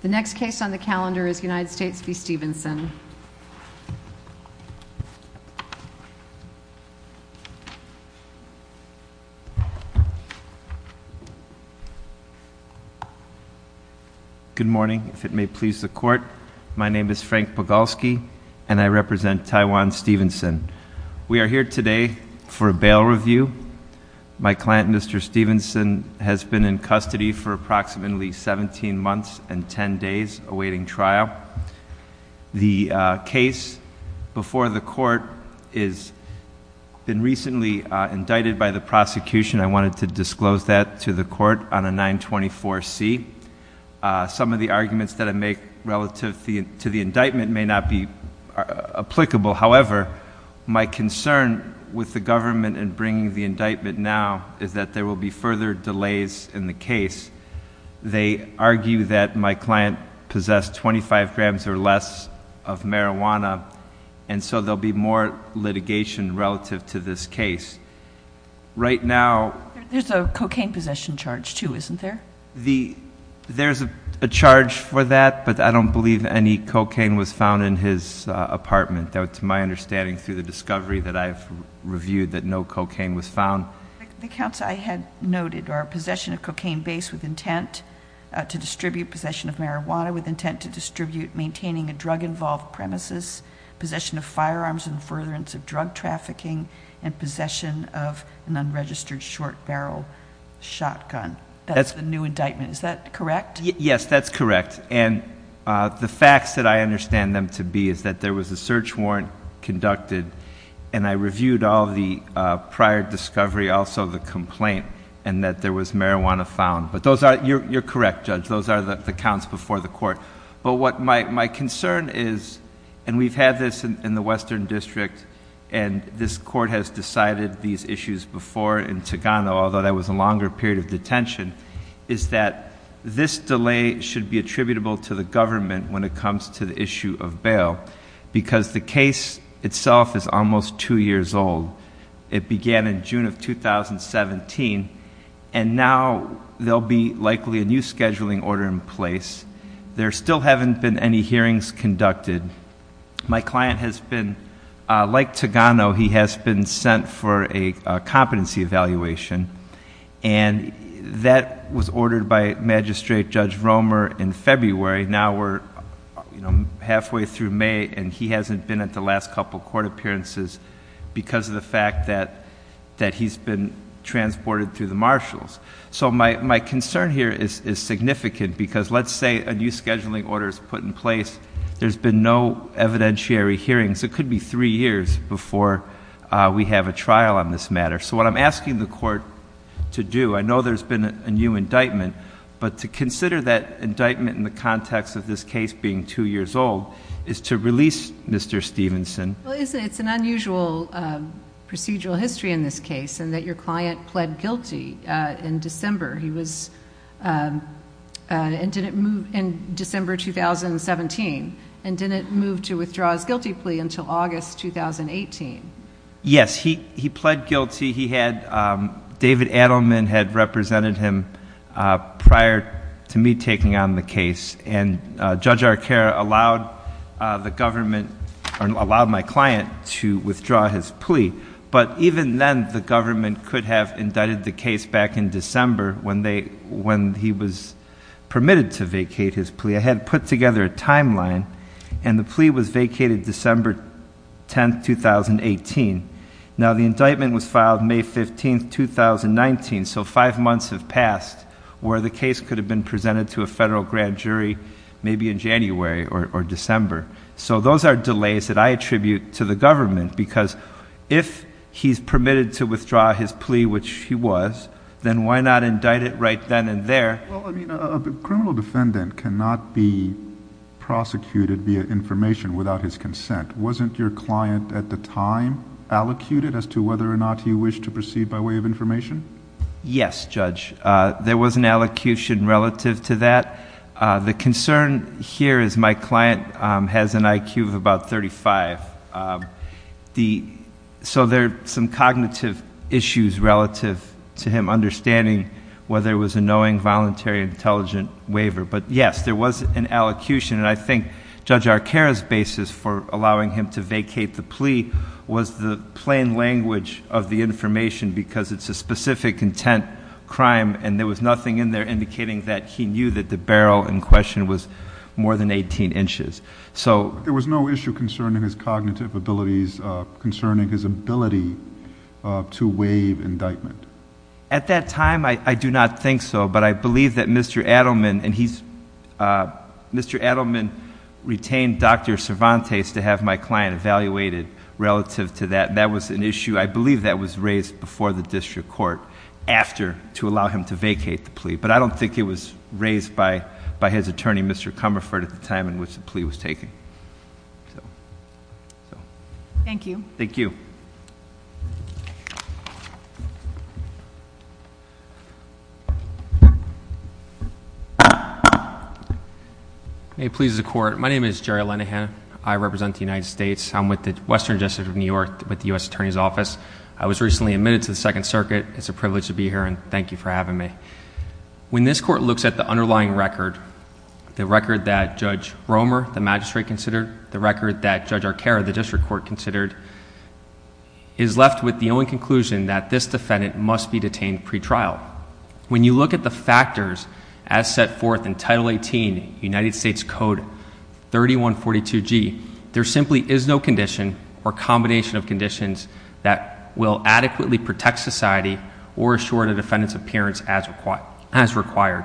The next case on the calendar is United States v. Stevenson. Good morning. If it may please the court, my name is Frank Bogolsky and I represent Taiwan Stevenson. We are here today for a bail review. My client, Mr. Stevenson, has been in custody for approximately 17 months and 10 days awaiting trial. The case before the court has been recently indicted by the prosecution. I wanted to disclose that to the court on a 924C. Some of the arguments that I make relative to the indictment may not be applicable. However, my concern with the government in bringing the indictment now is that there will be further delays in the case. They argue that my client possessed 25 grams or less of marijuana. And so there'll be more litigation relative to this case. Right now- There's a cocaine possession charge too, isn't there? There's a charge for that, but I don't believe any cocaine was found in his apartment. That's my understanding through the discovery that I've reviewed that no cocaine was found. The counts I had noted are possession of cocaine base with intent to distribute, possession of marijuana with intent to distribute, maintaining a drug involved premises, possession of firearms and furtherance of drug trafficking, and possession of an unregistered short barrel shotgun. That's the new indictment, is that correct? Yes, that's correct. And the facts that I understand them to be is that there was a search warrant conducted, and I reviewed all the prior discovery, also the complaint, and that there was marijuana found. But you're correct, Judge, those are the counts before the court. But what my concern is, and we've had this in the Western District, and this court has decided these issues before in Tagano, although that was a longer period of detention, is that this delay should be attributable to the government when it comes to the issue of bail. Because the case itself is almost two years old. It began in June of 2017, and now there'll be likely a new scheduling order in place. There still haven't been any hearings conducted. My client has been, like Tagano, he has been sent for a competency evaluation. And that was ordered by Magistrate Judge Romer in February. Now we're halfway through May, and he hasn't been at the last couple court appearances because of the fact that he's been transported through the marshals. So my concern here is significant, because let's say a new scheduling order is put in place. There's been no evidentiary hearings. It could be three years before we have a trial on this matter. So what I'm asking the court to do, I know there's been a new indictment. But to consider that indictment in the context of this case being two years old is to release Mr. Stevenson. Well, it's an unusual procedural history in this case, in that your client pled guilty in December. He was, and didn't move in December 2017, and didn't move to withdraw his guilty plea until August 2018. Yes, he pled guilty. He had, David Adelman had represented him prior to me taking on the case. And Judge Arcaro allowed the government, or allowed my client to withdraw his plea. But even then, the government could have indicted the case back in December when he was permitted to vacate his plea. I had put together a timeline, and the plea was vacated December 10th, 2018. Now, the indictment was filed May 15th, 2019, so five months have passed, where the case could have been presented to a federal grand jury maybe in January or December. So those are delays that I attribute to the government, because if he's permitted to withdraw his plea, which he was, then why not indict it right then and there? Well, I mean, a criminal defendant cannot be prosecuted via information without his consent. Wasn't your client at the time allocuted as to whether or not he wished to proceed by way of information? Yes, Judge, there was an allocution relative to that. The concern here is my client has an IQ of about 35. So there are some cognitive issues relative to him understanding whether it was a knowing, voluntary, intelligent waiver. But yes, there was an allocution, and I think Judge Arcaro's basis for allowing him to vacate the plea was the plain language of the information. Because it's a specific intent crime, and there was nothing in there indicating that he knew that the barrel in question was more than 18 inches. So- There was no issue concerning his cognitive abilities, concerning his ability to waive indictment. At that time, I do not think so, but I believe that Mr. Adelman, and he's, Mr. Adelman retained Dr. Cervantes to have my client evaluated relative to that. That was an issue, I believe, that was raised before the district court after to allow him to vacate the plea. But I don't think it was raised by his attorney, Mr. Comerford, at the time in which the plea was taken. Thank you. Thank you. May it please the court. My name is Jerry Linehan. I represent the United States. I'm with the Western District of New York with the US Attorney's Office. I was recently admitted to the Second Circuit. It's a privilege to be here, and thank you for having me. When this court looks at the underlying record, the record that Judge Romer, the magistrate, considered, the record that Judge Arcaro, the district court, considered, is left with the only conclusion that this defendant must be detained pretrial. When you look at the factors as set forth in Title 18, United States Code 3142G, there simply is no condition or combination of conditions that will adequately protect society or assure the defendant's appearance as required.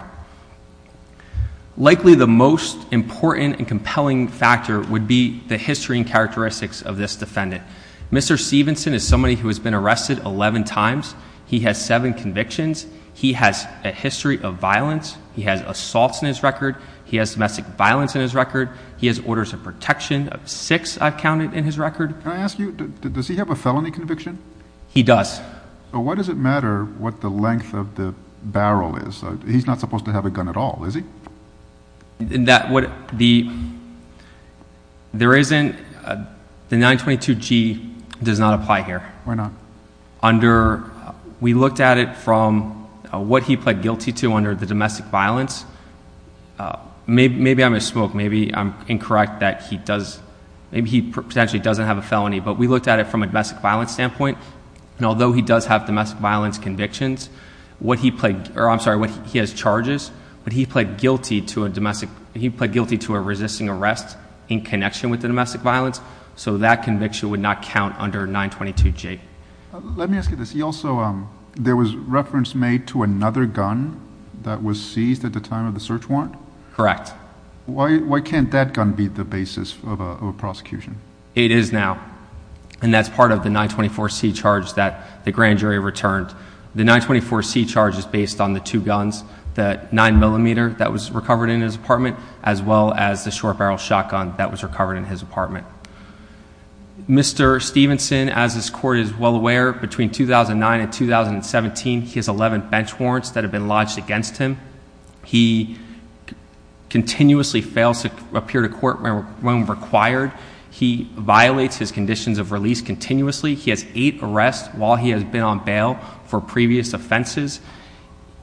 Likely the most important and compelling factor would be the history and characteristics of this defendant. Mr. Stevenson is somebody who has been arrested 11 times. He has seven convictions. He has a history of violence. He has assaults in his record. He has domestic violence in his record. He has orders of protection of six, I've counted, in his record. Can I ask you, does he have a felony conviction? He does. But why does it matter what the length of the barrel is? He's not supposed to have a gun at all, is he? There isn't, the 922G does not apply here. Why not? Under, we looked at it from what he pled guilty to under the domestic violence. Maybe I'm a smoke, maybe I'm incorrect that he does, maybe he potentially doesn't have a felony. But we looked at it from a domestic violence standpoint. And although he does have domestic violence convictions, what he pled, or I'm sorry, what he has charges. But he pled guilty to a resisting arrest in connection with the domestic violence. So that conviction would not count under 922G. Let me ask you this, he also, there was reference made to another gun that was seized at the time of the search warrant? Correct. Why can't that gun be the basis of a prosecution? It is now. And that's part of the 924C charge that the grand jury returned. The 924C charge is based on the two guns. The 9mm that was recovered in his apartment, as well as the short barrel shotgun that was recovered in his apartment. Mr. Stevenson, as this court is well aware, between 2009 and 2017, he has 11 bench warrants that have been lodged against him. He continuously fails to appear to court when required. He violates his conditions of release continuously. He has eight arrests while he has been on bail for previous offenses.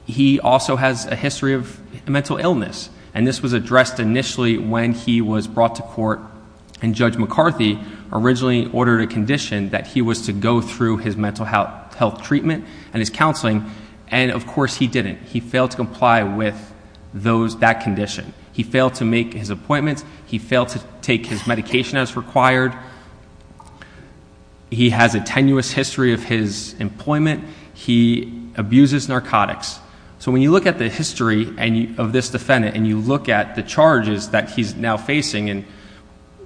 He also has a history of mental illness. And this was addressed initially when he was brought to court. And Judge McCarthy originally ordered a condition that he was to go through his mental health treatment and his counseling. And of course, he didn't. He failed to comply with that condition. He failed to make his appointments. He failed to take his medication as required. He has a tenuous history of his employment. He abuses narcotics. So when you look at the history of this defendant, and you look at the charges that he's now facing. And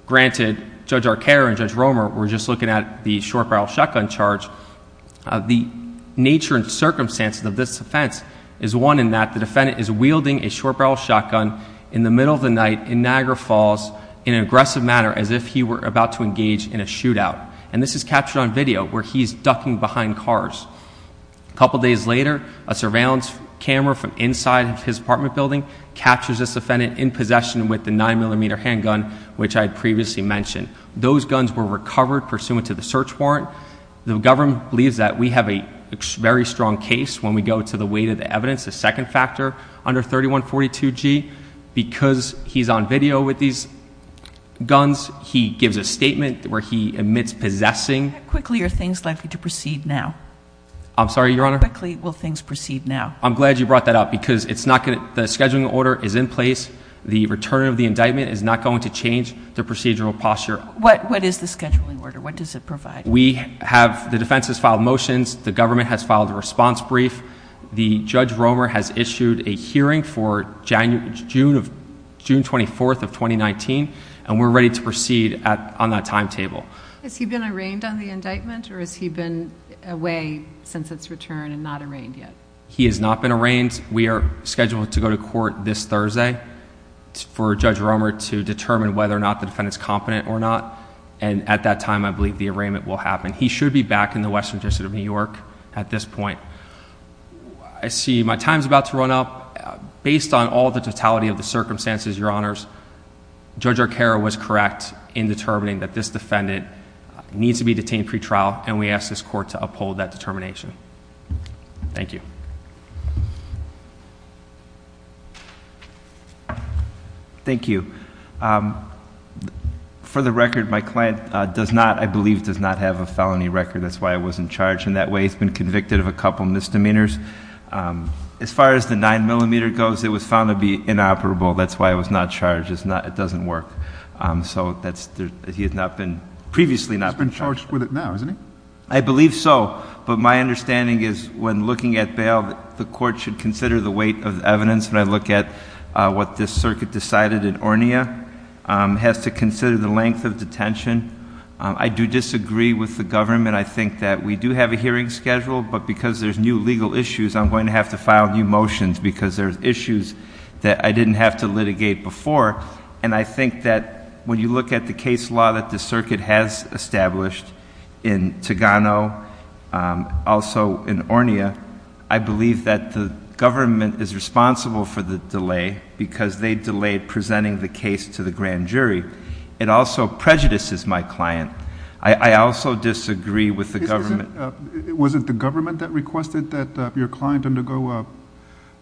granted, Judge Arcaro and Judge Romer were just looking at the short barrel shotgun charge. The nature and circumstances of this offense is one in that the defendant is wielding a short barrel shotgun in the middle of the night in Niagara Falls in an aggressive manner as if he were about to engage in a shootout. And this is captured on video where he's ducking behind cars. A couple days later, a surveillance camera from inside of his apartment building captures this offendant in possession with a nine millimeter handgun, which I had previously mentioned. Those guns were recovered pursuant to the search warrant. The government believes that we have a very strong case when we go to the weight of the evidence. The second factor under 3142G, because he's on video with these guns, he gives a statement where he admits possessing. Quickly, are things likely to proceed now? I'm sorry, your honor? Quickly, will things proceed now? I'm glad you brought that up, because the scheduling order is in place. The return of the indictment is not going to change the procedural posture. What is the scheduling order? What does it provide? We have, the defense has filed motions. The government has filed a response brief. The Judge Romer has issued a hearing for June 24th of 2019. And we're ready to proceed on that timetable. Has he been arraigned on the indictment, or has he been away since its return and not arraigned yet? He has not been arraigned. We are scheduled to go to court this Thursday for Judge Romer to determine whether or not the defendant's competent or not. And at that time, I believe the arraignment will happen. He should be back in the Western District of New York at this point. I see my time's about to run out. Based on all the totality of the circumstances, your honors, Judge Arcaro was correct in determining that this defendant needs to be detained pre-trial. And we ask this court to uphold that determination. Thank you. Thank you. For the record, my client does not, I believe, does not have a felony record. That's why I wasn't charged in that way. He's been convicted of a couple misdemeanors. As far as the nine millimeter goes, it was found to be inoperable. That's why I was not charged. It's not, it doesn't work. So that's, he has not been, previously not been charged. He's been charged with it now, isn't he? I believe so, but my understanding is when looking at bail, the court should consider the weight of evidence when I look at what this circuit decided in Ornia, has to consider the length of detention. I do disagree with the government. I think that we do have a hearing schedule, but because there's new legal issues, I'm going to have to file new motions because there's issues that I didn't have to litigate before. And I think that when you look at the case law that the circuit has established in Togano, also in Ornia, I believe that the government is responsible for the delay because they delayed presenting the case to the grand jury. It also prejudices my client. I also disagree with the government. Was it the government that requested that your client undergo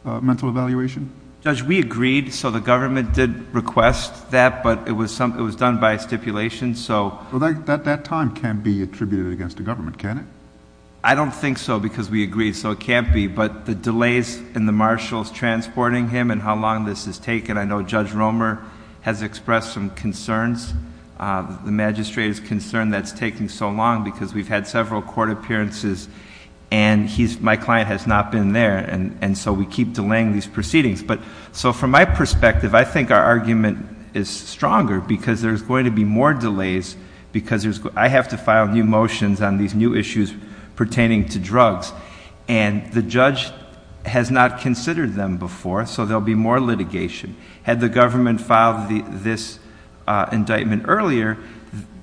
a mental evaluation? Judge, we agreed, so the government did request that, but it was done by stipulation, so. Well, that time can't be attributed against the government, can it? I don't think so, because we agreed, so it can't be. But the delays in the marshals transporting him and how long this has taken. I know Judge Romer has expressed some concerns, the magistrate's concern that's taking so long because we've had several court appearances and my client has not been there. And so we keep delaying these proceedings. But so from my perspective, I think our argument is stronger because there's going to be more delays. Because I have to file new motions on these new issues pertaining to drugs. And the judge has not considered them before, so there'll be more litigation. Had the government filed this indictment earlier,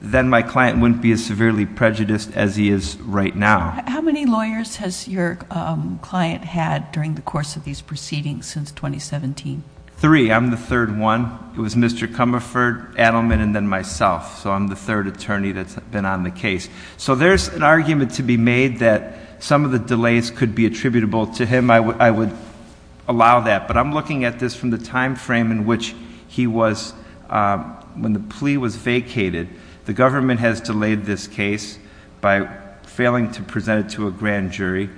then my client wouldn't be as severely prejudiced as he is right now. How many lawyers has your client had during the course of these proceedings since 2017? Three, I'm the third one. It was Mr. Comerford, Adelman, and then myself. So I'm the third attorney that's been on the case. So there's an argument to be made that some of the delays could be attributable to him. So I would allow that. But I'm looking at this from the time frame in which he was, when the plea was vacated, the government has delayed this case by failing to present it to a grand jury.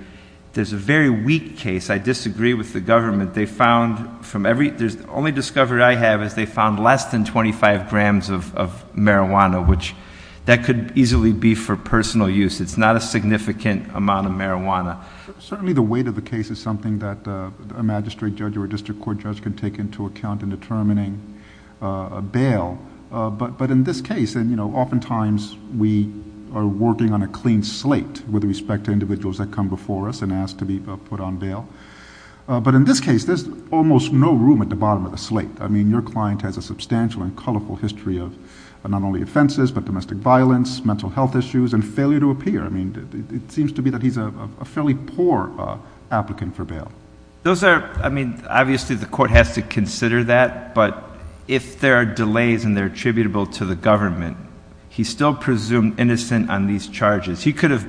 There's a very weak case. I disagree with the government. They found from every, the only discovery I have is they found less than 25 grams of marijuana, which that could easily be for personal use, it's not a significant amount of marijuana. Certainly the weight of the case is something that a magistrate judge or a district court judge can take into account in determining a bail. But in this case, and oftentimes we are working on a clean slate with respect to individuals that come before us and ask to be put on bail. But in this case, there's almost no room at the bottom of the slate. I mean, your client has a substantial and colorful history of not only offenses, but domestic violence, mental health issues, and failure to appear. I mean, it seems to be that he's a fairly poor applicant for bail. Those are, I mean, obviously the court has to consider that, but if there are delays and they're attributable to the government, he's still presumed innocent on these charges. He could have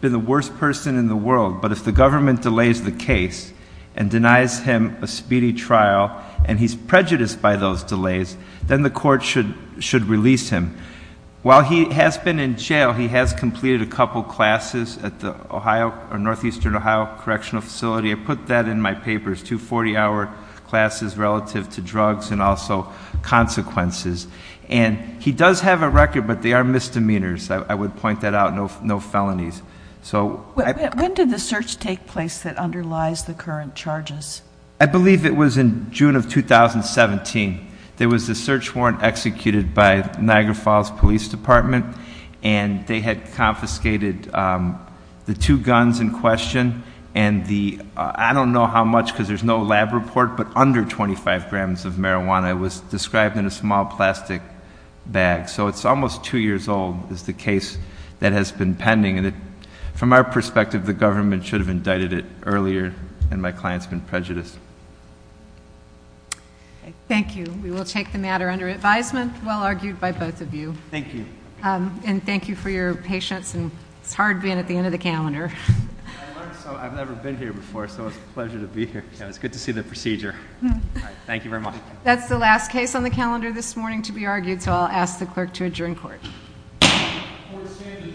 been the worst person in the world, but if the government delays the case and denies him a speedy trial, and he's prejudiced by those delays, then the court should release him. While he has been in jail, he has completed a couple classes at the Northeastern Ohio Correctional Facility. I put that in my papers, two 40-hour classes relative to drugs and also consequences. And he does have a record, but they are misdemeanors, I would point that out, no felonies. So- When did the search take place that underlies the current charges? I believe it was in June of 2017. There was a search warrant executed by Niagara Falls Police Department, and they had confiscated the two guns in question. And the, I don't know how much because there's no lab report, but under 25 grams of marijuana was described in a small plastic bag. So it's almost two years old, is the case that has been pending. From our perspective, the government should have indicted it earlier, and my client's been prejudiced. Thank you, we will take the matter under advisement, well argued by both of you. Thank you. And thank you for your patience, and it's hard being at the end of the calendar. I learned so, I've never been here before, so it's a pleasure to be here. It's good to see the procedure. Thank you very much. That's the last case on the calendar this morning to be argued, so I'll ask the clerk to adjourn court. Court is standing adjourned.